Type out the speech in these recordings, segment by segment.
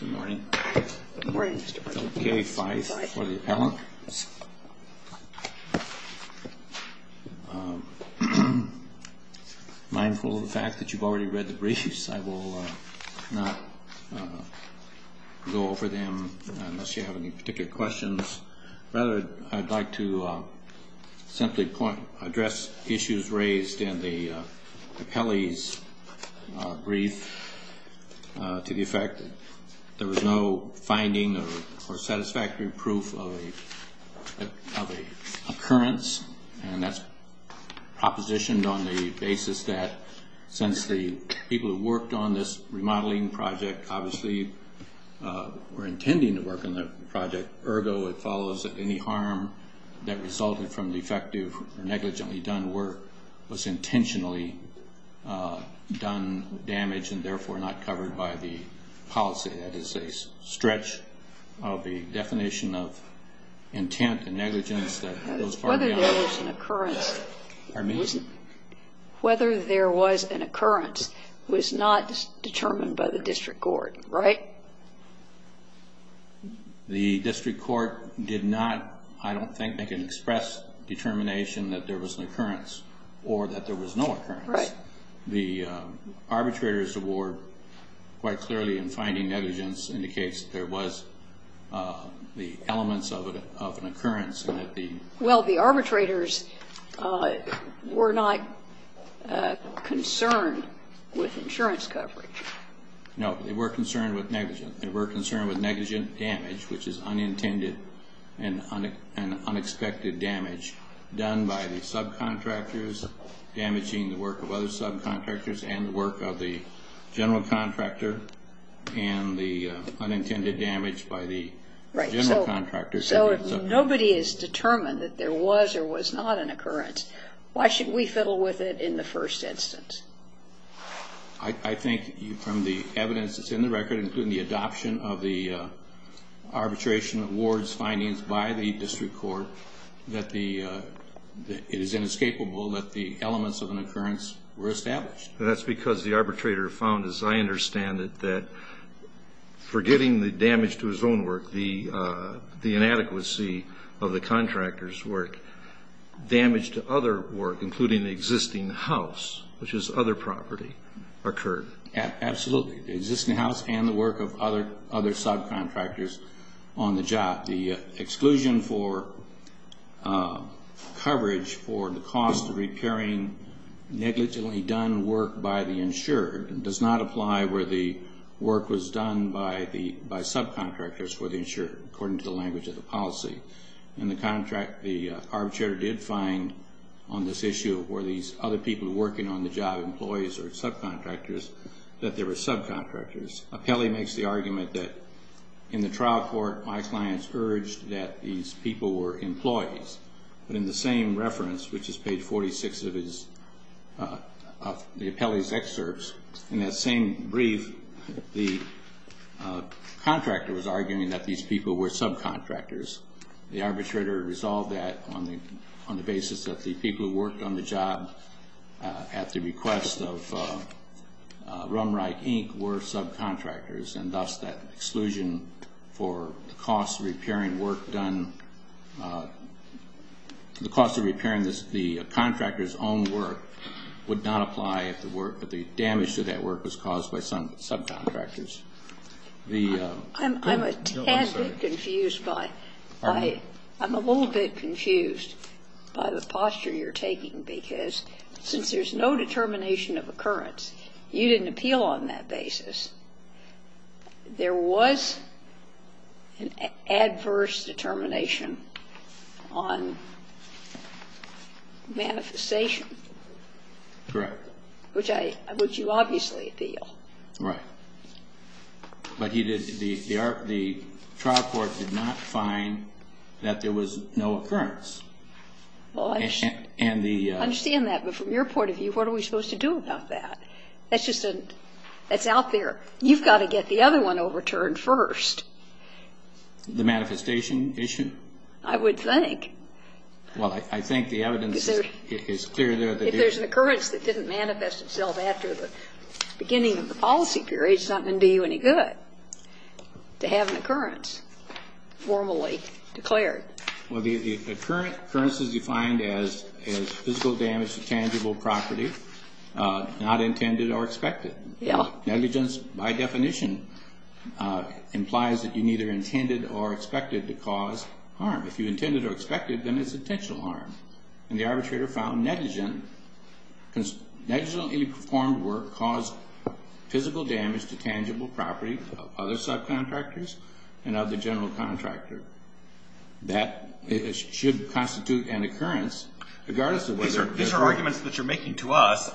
Good morning. Philip K. Fife for the appellant. Mindful of the fact that you've already read the briefs, I will not go over them unless you have any particular questions. Rather, I'd like to simply address issues raised in the appellee's brief to the effect that there was no finding or satisfactory proof of an occurrence, and that's propositioned on the basis that since the people who worked on this remodeling project obviously were intending to work on the project, ergo it follows that any harm that resulted from the effective or negligently done work was intentionally done damage and therefore not covered by the policy. That is a stretch of the definition of intent and negligence that goes far beyond that. Whether there was an occurrence was not determined by the district court, right? The district court did not, I don't think, make an express determination that there was an occurrence or that there was no occurrence. Right. The arbitrator's award quite clearly in finding negligence indicates that there was the elements of an occurrence. Well, the arbitrators were not concerned with insurance coverage. No, they were concerned with negligence. They were concerned with negligent damage, which is unintended and unexpected damage done by the subcontractors, damaging the work of other subcontractors and the work of the general contractor, and the unintended damage by the general contractor. Right. So if nobody is determined that there was or was not an occurrence, why should we fiddle with it in the first instance? I think from the evidence that's in the record, including the adoption of the arbitration award's findings by the district court, that it is inescapable that the elements of an occurrence were established. That's because the arbitrator found, as I understand it, that forgetting the damage to his own work, the inadequacy of the contractor's work, damage to other work, including the existing house, which is other property, occurred. Absolutely. Existing house and the work of other subcontractors on the job. The exclusion for coverage for the cost of repairing negligently done work by the insured does not apply where the work was done by subcontractors for the insured, according to the language of the policy. And the contract, the arbitrator did find on this issue, were these other people working on the job employees or subcontractors, that they were subcontractors. Apelli makes the argument that in the trial court, my clients urged that these people were employees. But in the same reference, which is page 46 of the Apelli's excerpts, in that same brief, the contractor was arguing that these people were subcontractors. The arbitrator resolved that on the basis that the people who worked on the job at the request of Rumreich, Inc. were subcontractors. And thus, that exclusion for the cost of repairing work done, the cost of repairing the contractor's own work would not apply if the work, if the damage to that work was caused by some subcontractors. There are different contexts, and I am curious. I don't want to confuse the offense permits. I'm a tad bit confused by. All right. I'm a little bit confused by the posture you're taking, because since there's no determination of occurrence, you didn't appeal on that basis. There was an adverse determination on manifestation, which you obviously appeal. Right. But the trial court did not find that there was no occurrence. Well, I understand that, but from your point of view, what are we supposed to do about that? That's out there. You've got to get the other one overturned first. The manifestation issue? I would think. Well, I think the evidence is clear there. If there's an occurrence that didn't manifest itself after the beginning of the policy period, it's not going to do you any good to have an occurrence formally declared. Well, the occurrence is defined as physical damage to tangible property not intended or expected. Negligence, by definition, implies that you neither intended or expected to cause harm. If you intended or expected, then it's intentional harm. And the arbitrator found negligently performed work caused physical damage to tangible property of other subcontractors and of the general contractor. That should constitute an occurrence, regardless of whether or not These are arguments that you're making to us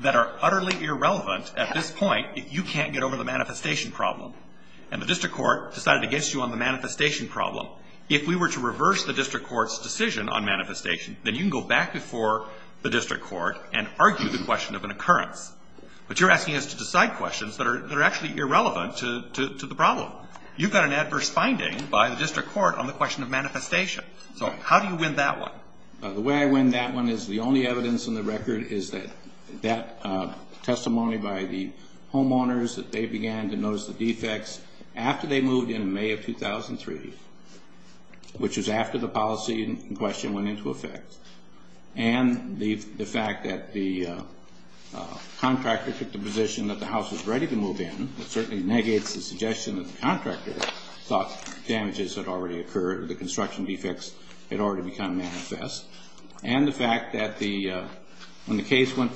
that are utterly irrelevant at this point if you can't get over the manifestation problem. And the district court decided against you on the manifestation problem. If we were to reverse the district court's decision on manifestation, then you can go back before the district court and argue the question of an occurrence. But you're asking us to decide questions that are actually irrelevant to the problem. You've got an adverse finding by the district court on the question of manifestation. So how do you win that one? The way I win that one is the only evidence in the record is that testimony by the homeowners that they began to notice the defects after they moved in in May of 2003, which is after the policy question went into effect. And the fact that the contractor took the position that the house was ready to move in, it certainly negates the suggestion that the contractor thought damages had already occurred, or the construction defects had already become manifest. And the fact that when the case went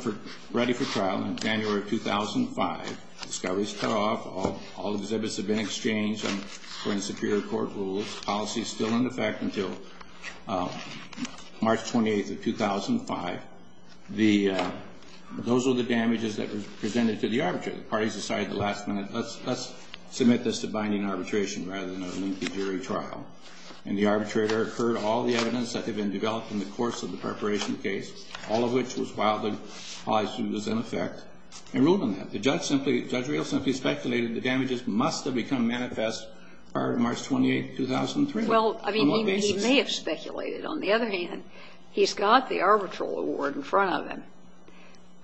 ready for trial in January of 2005, discoveries tore off, all exhibits had been exchanged according to Superior Court rules, policy still in effect until March 28th of 2005. Those were the damages that were presented to the arbitrator. The parties decided at the last minute, let's submit this to binding arbitration rather than a lengthy jury trial. And the arbitrator heard all the evidence that had been developed in the course of the preparation case, all of which was filed and was in effect, and ruled on that. The judge simply, Judge Rios simply speculated the damages must have become manifest prior to March 28th, 2003. Well, I mean, he may have speculated. On the other hand, he's got the arbitral award in front of him,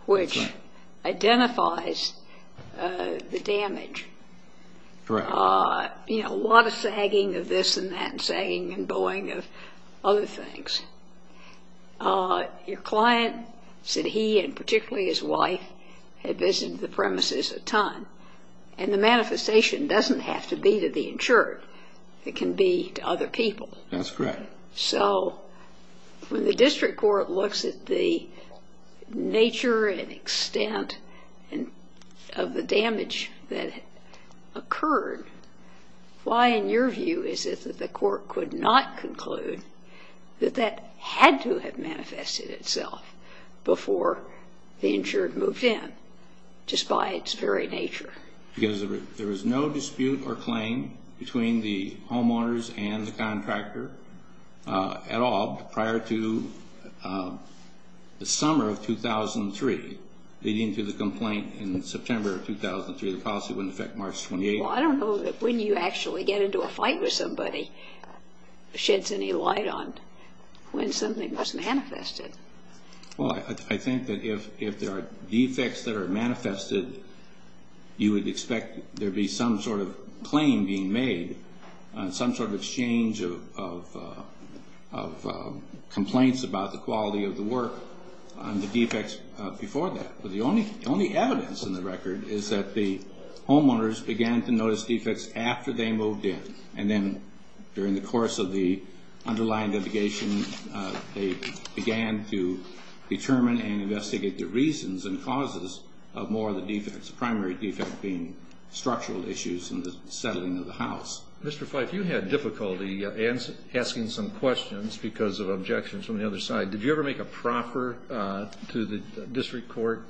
which identifies the damage. Correct. You know, a lot of sagging of this and that, and sagging and bowing of other things. Your client said he, and particularly his wife, had visited the premises a ton. And the manifestation doesn't have to be to the insured. It can be to other people. That's correct. So when the district court looks at the nature and extent of the damage that occurred, why in your view is it that the court could not conclude that that had to have manifested itself before the insured moved in, just by its very nature? Because there was no dispute or claim between the homeowners and the contractor at all prior to the summer of 2003, leading to the complaint in September of 2003. The policy wouldn't affect March 28th. Well, I don't know that when you actually get into a fight with somebody sheds any light on when something was manifested. Well, I think that if there are defects that are manifested, you would expect there'd be some sort of claim being made, some sort of exchange of complaints about the quality of the work on the defects before that. But the only evidence in the record is that the homeowners began to notice defects after they moved in. And then during the course of the underlying litigation, they began to determine and investigate the reasons and causes of more of the defects, the primary defect being structural issues in the settling of the house. Mr. Fife, you had difficulty asking some questions because of objections from the other side. Did you ever make a proffer to the district court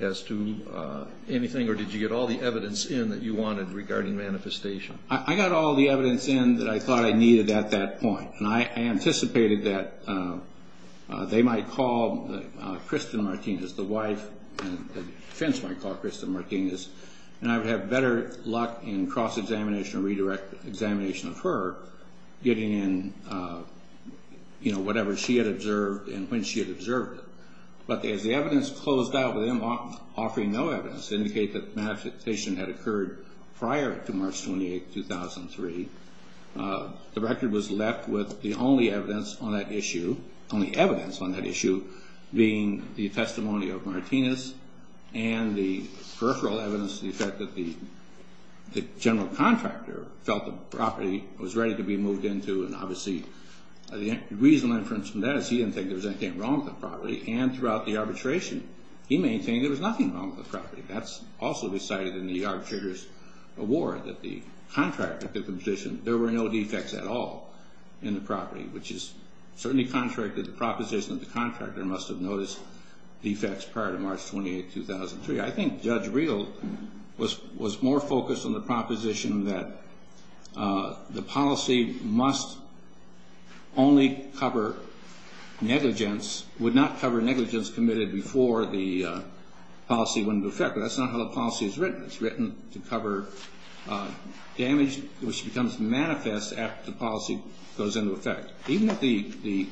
as to anything? Or did you get all the evidence in that you wanted regarding manifestation? I got all the evidence in that I thought I needed at that point. And I anticipated that they might call Kristen Martinez, the wife, and the defense might call Kristen Martinez. And I would have better luck in cross-examination or redirect examination of her getting in, you know, whatever she had observed and when she had observed it. But as the evidence closed out with them offering no evidence to indicate that the manifestation had occurred prior to March 28, 2003, the record was left with the only evidence on that issue, only evidence on that issue being the testimony of Martinez and the peripheral evidence, the fact that the general contractor felt the property was ready to be moved into. And obviously, the reasonable inference from that is he didn't think there was anything wrong with the property and throughout the arbitration, he maintained there was nothing wrong with the property. That's also decided in the arbitrator's award that the contractor took the position there were no defects at all in the property, which is certainly contrary to the proposition that the contractor must have noticed defects prior to March 28, 2003. I think Judge Reel was more focused on the proposition that the policy must only cover negligence, would not cover negligence committed before the policy went into effect, but that's not how the policy is written. It's written to cover damage which becomes manifest after the policy goes into effect. Even if the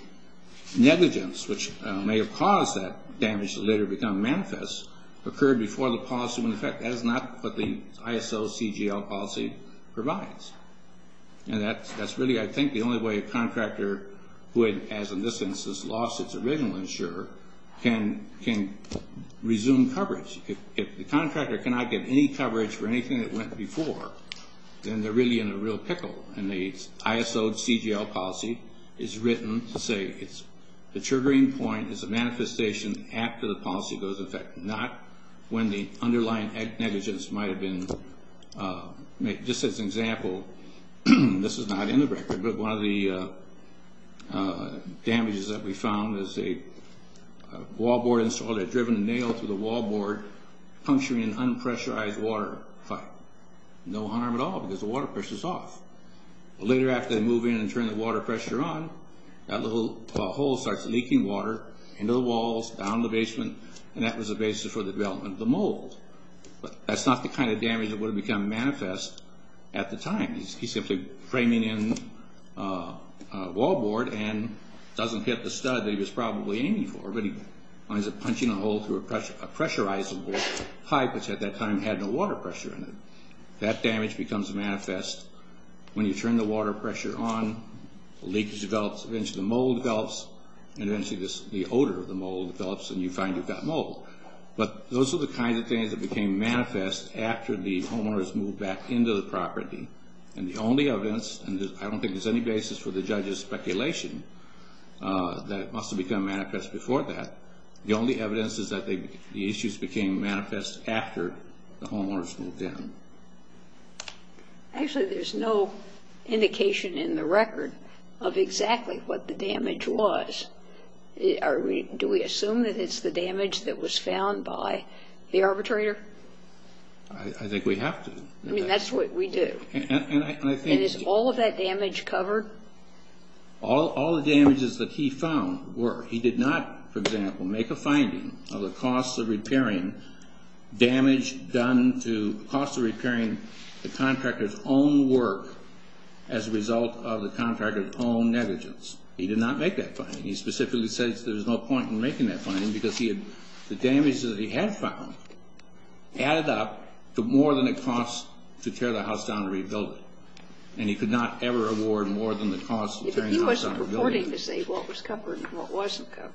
negligence, which may have caused that damage to later become manifest, occurred before the policy went into effect, that is not what the ISO CGL policy provides. And that's really, I think, the only way a contractor would, as a license has lost its original insurer, can resume coverage. If the contractor cannot get any coverage for anything that went before, then they're really in a real pickle. And the ISO CGL policy is written to say the triggering point is a manifestation after the policy goes into effect, not when the underlying negligence might have been, just as an example, this is not in the record, but one of the damages that we found is a wallboard installed that had driven a nail through the wallboard, puncturing an unpressurized water pipe. No harm at all because the water pressure's off. But later after they move in and turn the water pressure on, that little hole starts leaking water into the walls, down the basement, and that was the basis for the development of the mold. But that's not the kind of damage that would have become manifest at the time. He's simply framing in a wallboard and doesn't hit the stud that he was probably aiming for, but he finds it punching a hole through a pressurized water pipe, which at that time had no water pressure in it. That damage becomes manifest when you turn the water pressure on, the leakage develops, eventually the mold develops, and eventually the odor of the mold develops and you find you've got mold. But those are the kinds of things that became manifest after the homeowners moved back into the property. And the only evidence, and I don't think there's any basis for the judge's speculation that it must have become manifest before that, the only evidence is that the issues became manifest after the homeowners moved in. Actually, there's no indication in the record of exactly what the damage was. Do we assume that it's the damage that was found by the arbitrator? I think we have to. I mean, that's what we do. And is all of that damage covered? All the damages that he found were. He did not, for example, make a finding of the cost of repairing damage done to the cost of repairing the contractor's own work as a result of the contractor's own negligence. He did not make that finding. He specifically says there's no point in making that finding because the damage that he had found added up to more than it cost to tear the house down and rebuild it. And he could not ever award more than the cost of tearing the house down. He wasn't purporting to say what was covered and what wasn't covered.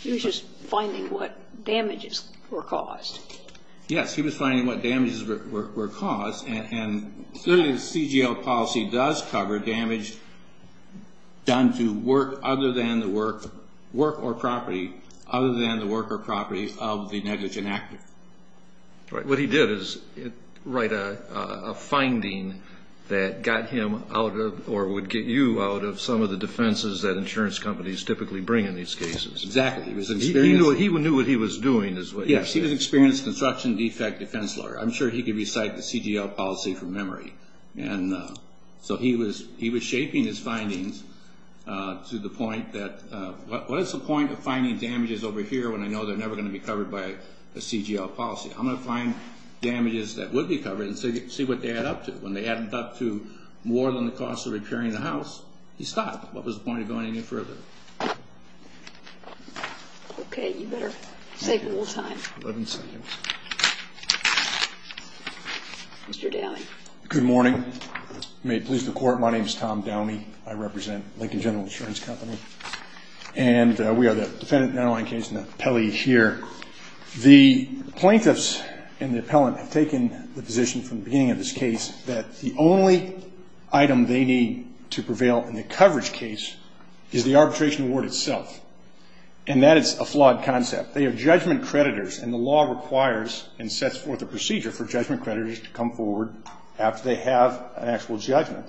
He was just finding what damages were caused. Yes, he was finding what damages were caused. And clearly, the CGL policy does cover damage done to work other than the work or property of the negligent actor. Right. What he did is write a finding that got him out of or would get you out of some of the defenses that insurance companies typically bring in these cases. Exactly. He knew what he was doing. Yes, he was an experienced construction defect defense lawyer. I'm sure he could recite the CGL policy from memory. And so he was shaping his findings to the point that, what is the point of finding damages over here when I know they're never going to be covered by a CGL policy? I'm going to find damages that would be covered and see what they add up to. When they add up to more than the cost of repairing the house, he stopped. What was the point of going any further? Okay, you better save a little time. Eleven seconds. Mr. Downey. Good morning. May it please the Court, my name is Tom Downey. I represent Lincoln General Insurance Company, and we are the defendant in the underlying case and the appellee here. The plaintiffs and the appellant have taken the position from the beginning of this case that the only item they need to prevail in the coverage case is the arbitration award itself, and that is a flawed concept. They have judgment creditors, and the law requires and sets forth a procedure for judgment creditors to come forward after they have an actual judgment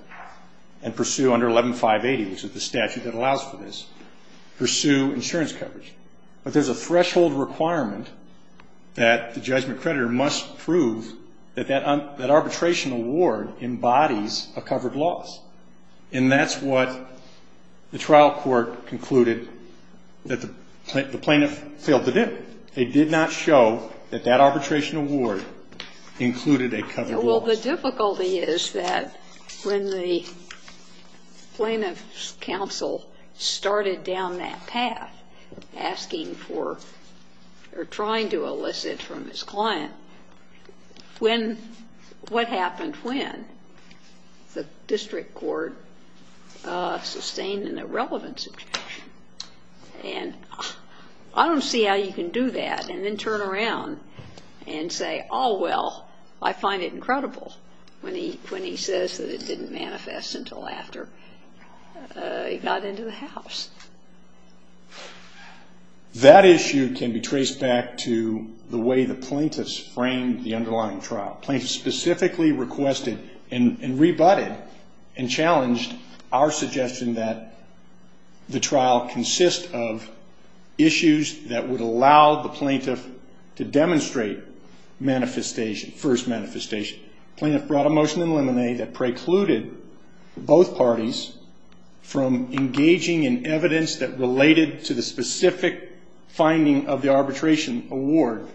and pursue under 11-580, which is the statute that allows for this, pursue insurance coverage. But there's a threshold requirement that the judgment creditor must prove that that arbitration award embodies a covered loss, and that's what the trial court concluded that the plaintiff failed to do. They did not show that that arbitration award included a covered loss. Well, the difficulty is that when the plaintiff's counsel started down that path, asking for or trying to elicit from his client, when what happened when the district court sustained an irrelevance objection. And I don't see how you can do that and then turn around and say, oh, well, I find it incredible when he says that it didn't manifest until after he got into the house. That issue can be traced back to the way the plaintiffs framed the underlying trial. Plaintiffs specifically requested and rebutted and challenged our suggestion that the trial consist of issues that would allow the plaintiff to demonstrate manifestation, first manifestation. Plaintiff brought a motion in limine that precluded both parties from engaging in evidence that related to the specific finding of the arbitration award,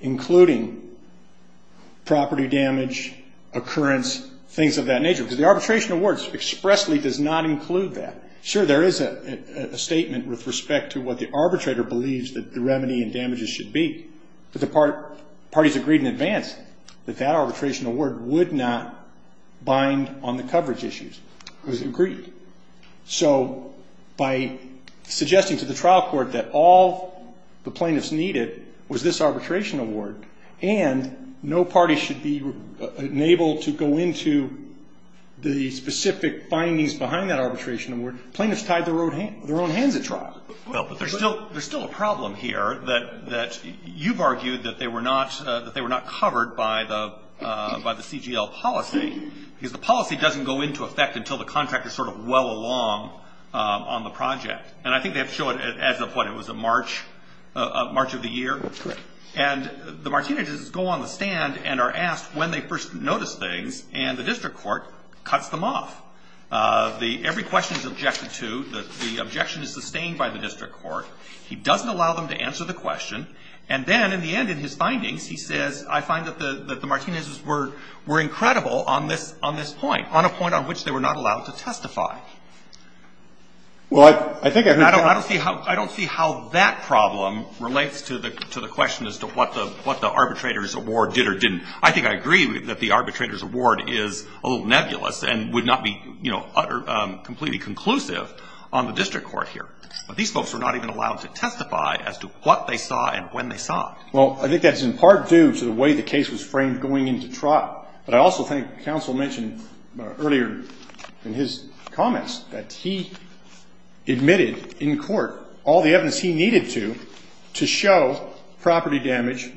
including property damage, occurrence, things of that nature. Because the arbitration award expressly does not include that. Sure, there is a statement with respect to what the arbitrator believes that the remedy and damages should be. But the parties agreed in advance that that arbitration award would not bind on the coverage issues. It was agreed. So by suggesting to the trial court that all the plaintiffs needed was this arbitration award and no party should be enabled to go into the specific findings behind that arbitration award, plaintiffs tied their own hands at trial. There's still a problem here that you've argued that they were not covered by the CGL policy. Because the policy doesn't go into effect until the contractor is sort of well along on the project. And I think they have shown as of what, it was March of the year? Correct. And the Martinez's go on the stand and are asked when they first noticed things and the district court cuts them off. Every question is objected to. The objection is sustained by the district court. He doesn't allow them to answer the question. And then, in the end, in his findings, he says, I find that the Martinez's were incredible on this point, on a point on which they were not allowed to testify. Well, I think I heard that. I don't see how that problem relates to the question as to what the arbitrator's award did or didn't. I think I agree that the arbitrator's award is a little nebulous and would not be, you know, utterly, completely conclusive on the district court here. But these folks were not even allowed to testify as to what they saw and when they saw it. Well, I think that's in part due to the way the case was framed going into trial. But I also think counsel mentioned earlier in his comments that he admitted in court all the evidence he needed to, to show property damage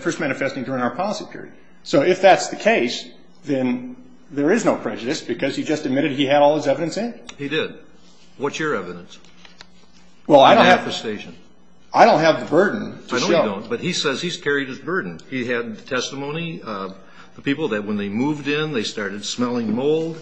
first manifesting during our policy period. So if that's the case, then there is no prejudice because he just admitted he had all his evidence in. He did. What's your evidence? Well, I don't have the burden to show. I know you don't, but he says he's carried his burden. He had testimony of the people that when they moved in, they started smelling mold,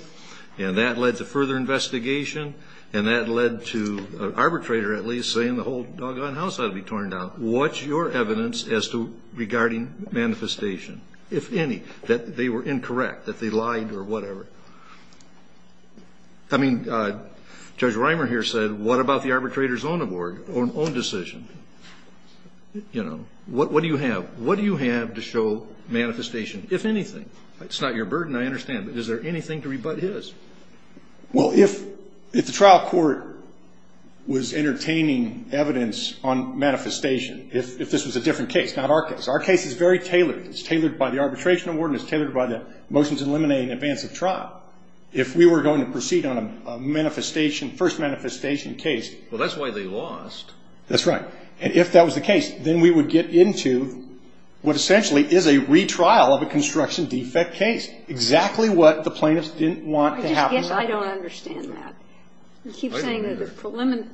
and that led to further investigation, and that led to an arbitrator at least saying the whole doggone house ought to be torn down. What's your evidence as to, regarding manifestation, if any, that they were incorrect, that they lied or whatever? I mean, Judge Reimer here said, what about the arbitrator's own award, own decision? You know, what do you have? What do you have to show manifestation, if anything? It's not your burden, I understand, but is there anything to rebut his? Well, if the trial court was entertaining evidence on manifestation, if this was a different case, not our case. Our case is very tailored. It's tailored by the arbitration award, and it's tailored by the motions eliminating advance of trial. If we were going to proceed on a manifestation, first manifestation case. Well, that's why they lost. That's right. And if that was the case, then we would get into what essentially is a retrial of a construction defect case, exactly what the plaintiffs didn't want to happen. I just guess I don't understand that. You keep saying that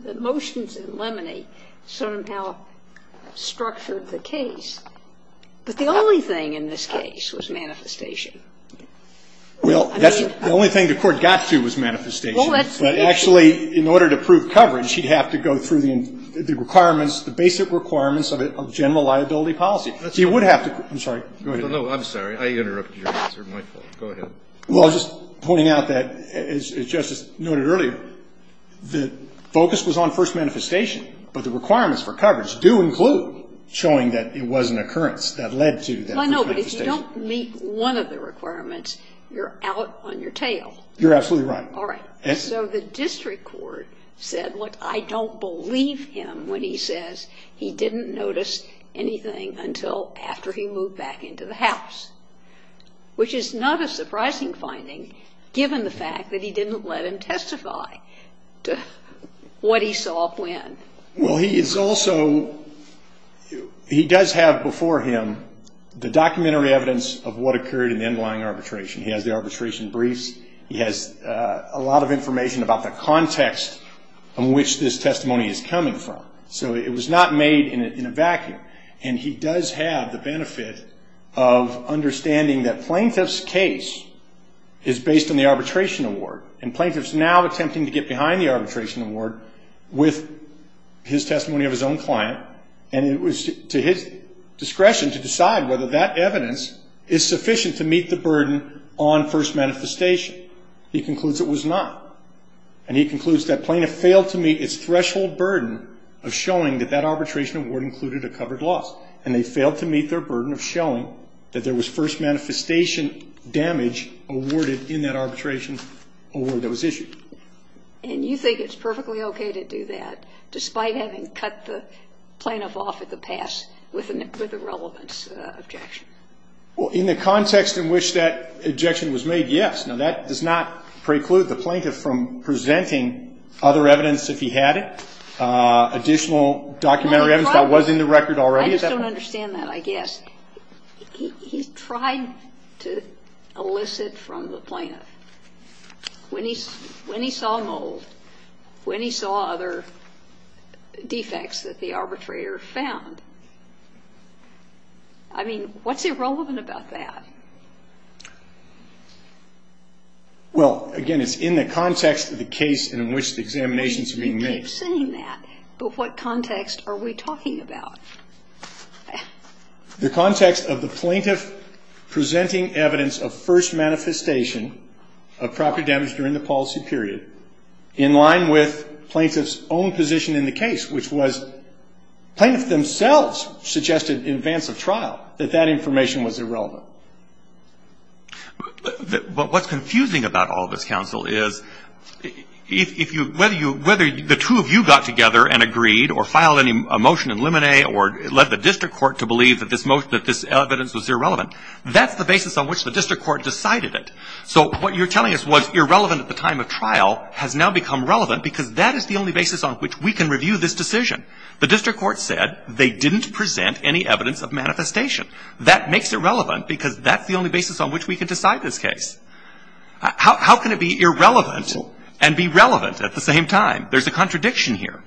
the motions eliminate sort of how structured the case, but the only thing in this case was manifestation. Well, that's the only thing the court got to was manifestation. But actually, in order to prove coverage, you'd have to go through the requirements, the basic requirements of general liability policy. You would have to. I'm sorry. No, I'm sorry. I interrupted your answer. My fault. Go ahead. Well, I was just pointing out that, as Justice noted earlier, the focus was on first manifestation, but the requirements for coverage do include showing that it was an occurrence that led to that first manifestation. Well, I know, but if you don't meet one of the requirements, you're out on your tail. You're absolutely right. All right. So the district court said, well, I don't believe him when he says he didn't notice anything until after he moved back into the house, which is not a surprising finding, given the fact that he didn't let him testify to what he saw when. Well, he is also he does have before him the documentary evidence of what occurred in the underlying arbitration. He has the arbitration briefs. He has a lot of information about the context in which this testimony is coming from. So it was not made in a vacuum, and he does have the benefit of understanding that plaintiff's case is based on the arbitration award and plaintiff's now attempting to get behind the arbitration award with his testimony of his own client, and it was to his discretion to decide whether that evidence is sufficient to meet the burden on first manifestation. He concludes it was not, and he concludes that plaintiff failed to meet its threshold burden of showing that that arbitration award included a covered loss, and they failed to meet their burden of showing that there was first manifestation damage awarded in that arbitration award that was issued. And you think it's perfectly okay to do that, despite having cut the plaintiff off at the pass with a relevance objection? Well, in the context in which that objection was made, yes. Now, that does not preclude the plaintiff from presenting other evidence if he had it, additional documentary evidence that was in the record already. I just don't understand that, I guess. He tried to elicit from the plaintiff. When he saw mold, when he saw other defects that the arbitrator found, I mean, what's irrelevant about that? Well, again, it's in the context of the case in which the examination is being made. You keep saying that, but what context are we talking about? The context of the plaintiff presenting evidence of first manifestation of property damage during the policy period, in line with plaintiff's own position in the case, which was plaintiff themselves suggested in advance of trial that that information was irrelevant. But what's confusing about all of this, counsel, is if you, whether you, the two of you got together and agreed or filed a motion in limine or led the district court to believe that this evidence was irrelevant, that's the basis on which the district court decided it. So what you're telling us was irrelevant at the time of trial has now become relevant because that is the only basis on which we can review this decision. The district court said they didn't present any evidence of manifestation. That makes it relevant because that's the only basis on which we can decide this case. How can it be irrelevant and be relevant at the same time? There's a contradiction here.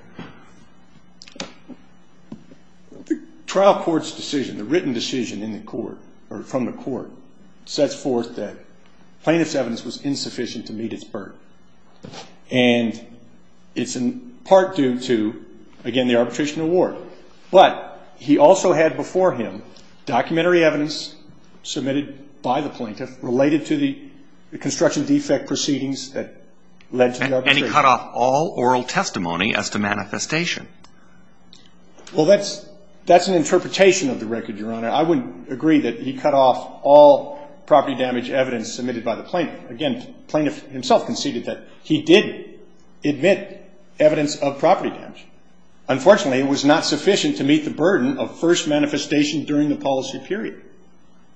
The trial court's decision, the written decision in the court, or from the court, sets forth that plaintiff's evidence was insufficient to meet its burden. And it's in part due to, again, the arbitration award. But he also had before him documentary evidence submitted by the plaintiff related to the construction defect proceedings that led to the arbitration. And he cut off all oral testimony as to manifestation. Well, that's an interpretation of the record, Your Honor. I wouldn't agree that he cut off all property damage evidence submitted by the plaintiff. Again, the plaintiff himself conceded that he did admit evidence of property damage. Unfortunately, it was not sufficient to meet the burden of first manifestation during the policy period.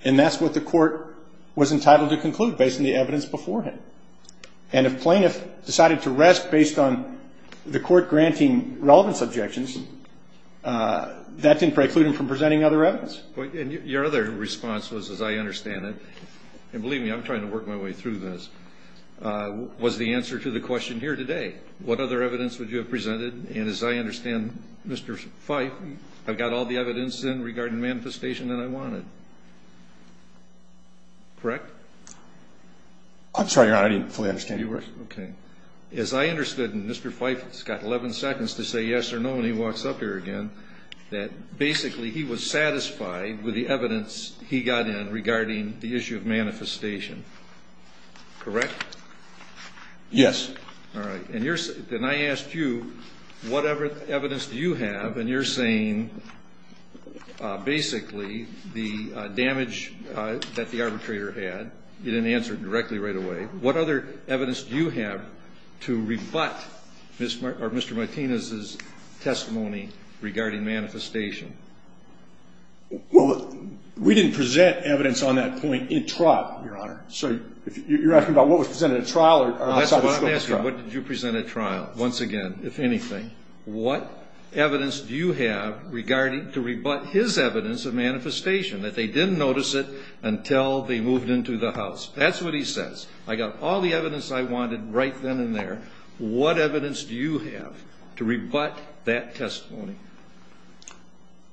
And that's what the court was entitled to conclude based on the evidence beforehand. And if plaintiff decided to rest based on the court granting relevance objections, that didn't preclude him from presenting other evidence. Your other response was, as I understand it, and believe me, I'm trying to work my way through this, was the answer to the question here today. What other evidence would you have presented? And as I understand, Mr. Fife, I've got all the evidence in regarding manifestation that I wanted. Correct? I'm sorry, Your Honor, I didn't fully understand. Okay. As I understood, and Mr. Fife's got 11 seconds to say yes or no when he walks up here again, that basically he was satisfied with the evidence he got in regarding the issue of manifestation. Correct? Yes. All right. Then I asked you, what other evidence do you have? And you're saying basically the damage that the arbitrator had. You didn't answer it directly right away. What other evidence do you have to rebut Mr. Martinez's testimony regarding manifestation? Well, we didn't present evidence on that point in trial, Your Honor. So you're asking about what was presented at trial or outside the scope of trial? Well, I'm asking what did you present at trial? Once again, if anything, what evidence do you have to rebut his evidence of manifestation, that they didn't notice it until they moved into the house? That's what he says. I've got all the evidence I wanted right then and there. What evidence do you have to rebut that testimony?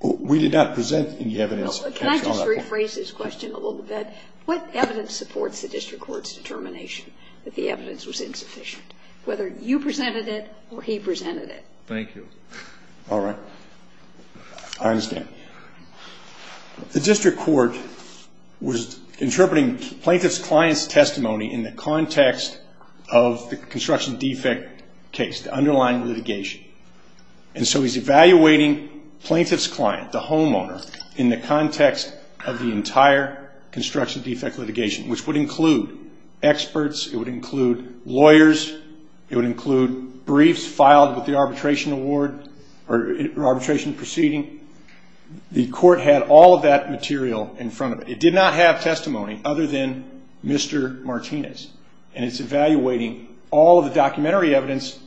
We did not present any evidence. Can I just rephrase his question a little bit? What evidence supports the district court's determination that the evidence was insufficient, whether you presented it or he presented it? Thank you. All right. I understand. The district court was interpreting plaintiff's client's testimony in the context of the construction defect case, the underlying litigation. And so he's evaluating plaintiff's client, the homeowner, in the context of the entire construction defect litigation, which would include experts. It would include lawyers. It would include briefs filed with the arbitration award or arbitration proceeding. The court had all of that material in front of it. It did not have testimony other than Mr. Martinez, and it's evaluating all of the documentary evidence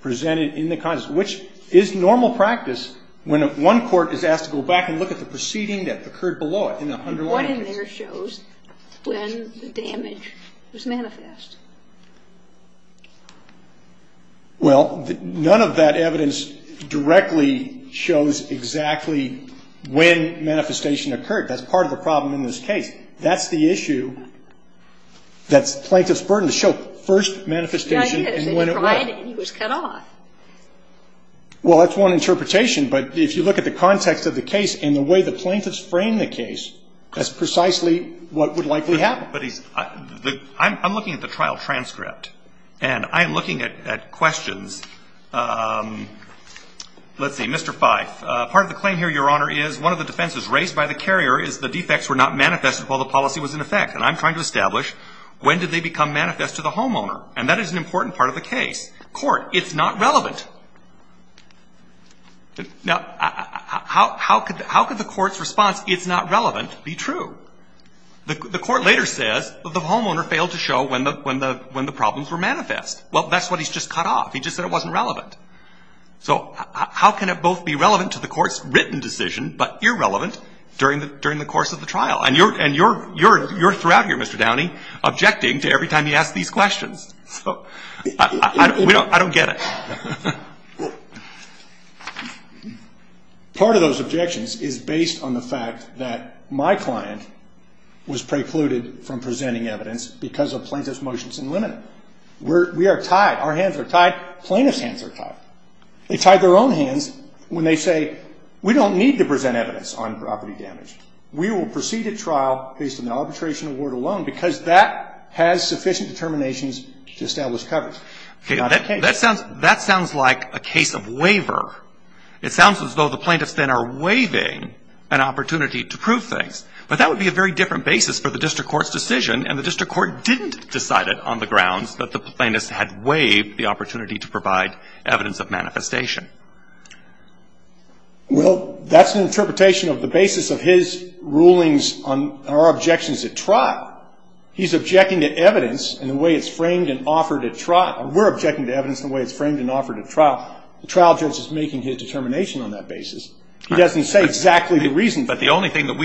presented in the context, which is normal practice when one court is asked to go back and look at the proceeding that occurred below it in the underlying case. What in there shows when the damage was manifest? Well, none of that evidence directly shows exactly when manifestation occurred. That's part of the problem in this case. That's the issue that's plaintiff's burden to show first manifestation and when it was. He cried and he was cut off. Well, that's one interpretation. But if you look at the context of the case and the way the plaintiffs framed the case, that's precisely what would likely happen. I'm looking at the trial transcript, and I'm looking at questions. Let's see. Mr. Fyfe, part of the claim here, Your Honor, is one of the defenses raised by the carrier is the defects were not manifested while the policy was in effect. And I'm trying to establish when did they become manifest to the homeowner? And that is an important part of the case. Court, it's not relevant. Now, how could the court's response, it's not relevant, be true? The court later says the homeowner failed to show when the problems were manifest. Well, that's what he's just cut off. He just said it wasn't relevant. So how can it both be relevant to the court's written decision but irrelevant during the course of the trial? And you're throughout here, Mr. Downey, objecting to every time he asks these questions. So I don't get it. Part of those objections is based on the fact that my client was precluded from presenting evidence because of plaintiff's motions in limine. We are tied. Our hands are tied. Plaintiff's hands are tied. They tied their own hands when they say we don't need to present evidence on property damage. We will proceed at trial based on the arbitration award alone because that has sufficient determinations to establish coverage. That sounds like a case of waiver. It sounds as though the plaintiffs then are waiving an opportunity to prove things. But that would be a very different basis for the district court's decision, and the district court didn't decide it on the grounds that the plaintiffs had waived the opportunity to provide evidence of manifestation. Well, that's an interpretation of the basis of his rulings on our objections at trial. He's objecting to evidence in the way it's framed and offered at trial. We're objecting to evidence in the way it's framed and offered at trial. The trial judge is making his determination on that basis. He doesn't say exactly the reason for it. But the only thing that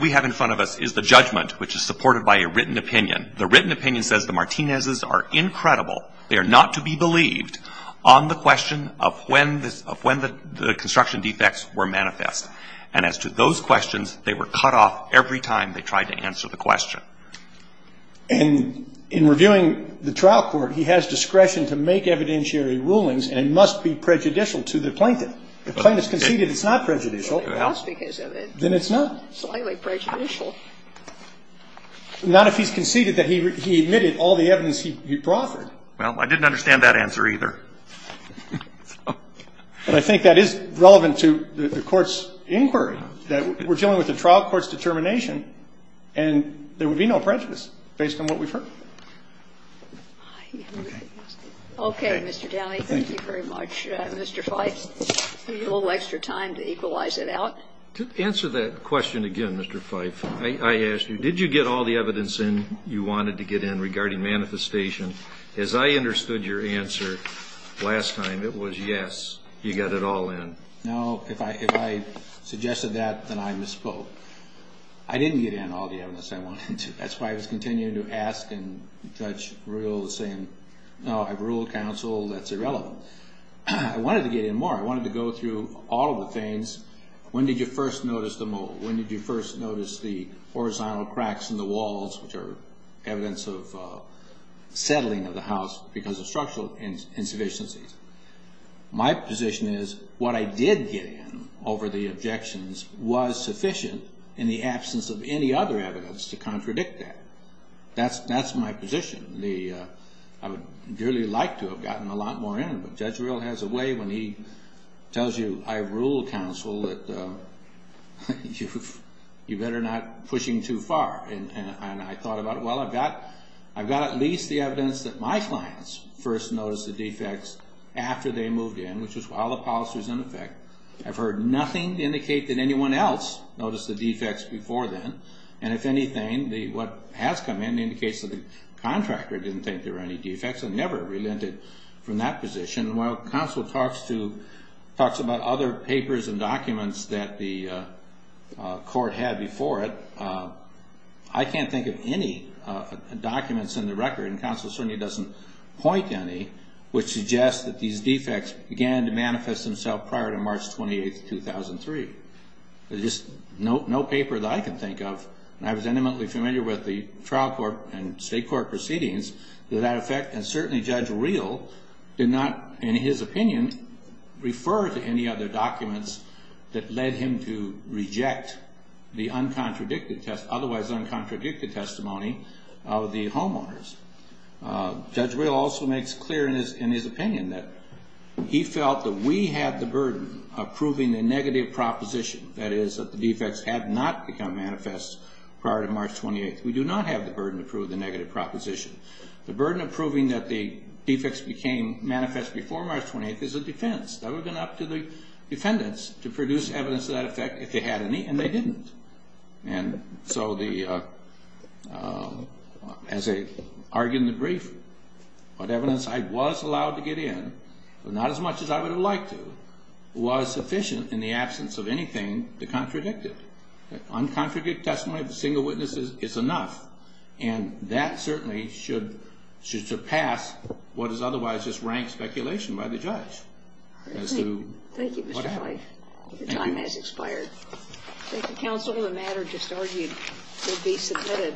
we have in front of us is the judgment, which is supported by a written opinion. The written opinion says the Martinez's are incredible. They are not to be believed on the question of when the construction defects were manifest. And as to those questions, they were cut off every time they tried to answer the question. And in reviewing the trial court, he has discretion to make evidentiary rulings, and it must be prejudicial to the plaintiff. If the plaintiff conceded it's not prejudicial, then it's not. Slightly prejudicial. Not if he's conceded that he admitted all the evidence he offered. Well, I didn't understand that answer either. But I think that is relevant to the Court's inquiry, that we're dealing with a trial court's determination, and there would be no prejudice based on what we've heard. Okay, Mr. Downey. Thank you very much. Mr. Fife, a little extra time to equalize it out. To answer that question again, Mr. Fife, I asked you, did you get all the evidence in you wanted to get in regarding manifestation? As I understood your answer last time, it was yes, you got it all in. No, if I suggested that, then I misspoke. I didn't get in all the evidence I wanted to. That's why I was continuing to ask, and Judge Ruhl was saying, no, I've ruled counsel, that's irrelevant. I wanted to get in more. I wanted to go through all of the things. When did you first notice the mold? When did you first notice the horizontal cracks in the walls, which are evidence of settling of the house because of structural insufficiencies? My position is, what I did get in over the objections was sufficient in the absence of any other evidence to contradict that. That's my position. I would dearly like to have gotten a lot more in, but Judge Ruhl has a way when he tells you, I rule counsel, that you better not pushing too far. And I thought about it. Well, I've got at least the evidence that my clients first noticed the defects after they moved in, which was while the policy was in effect. I've heard nothing indicate that anyone else noticed the defects before then. And if anything, what has come in indicates that the contractor didn't think there were any defects and never relented from that position. While counsel talks about other papers and documents that the court had before it, I can't think of any documents in the record, and counsel certainly doesn't point to any, which suggests that these defects began to manifest themselves prior to March 28, 2003. There's just no paper that I can think of. And I was intimately familiar with the trial court and state court proceedings to that effect. And certainly Judge Ruhl did not, in his opinion, refer to any other documents that led him to reject the uncontradicted test, otherwise uncontradicted testimony of the homeowners. Judge Ruhl also makes clear in his opinion that he felt that we had the burden of proving the negative proposition, that is, that the defects had not become manifest prior to March 28. We do not have the burden to prove the negative proposition. The burden of proving that the defects became manifest before March 28 is a defense. That would have been up to the defendants to produce evidence to that effect if they had any, and they didn't. And so the, as I argue in the brief, what evidence I was allowed to get in, but not as much as I would have liked to, was sufficient in the absence of anything to contradict it. Uncontradicted testimony of the single witnesses is enough, and that certainly should surpass what is otherwise just ranked speculation by the judge. Thank you, Mr. Clay. Your time has expired. Thank you, Counsel. The matter just argued will be submitted.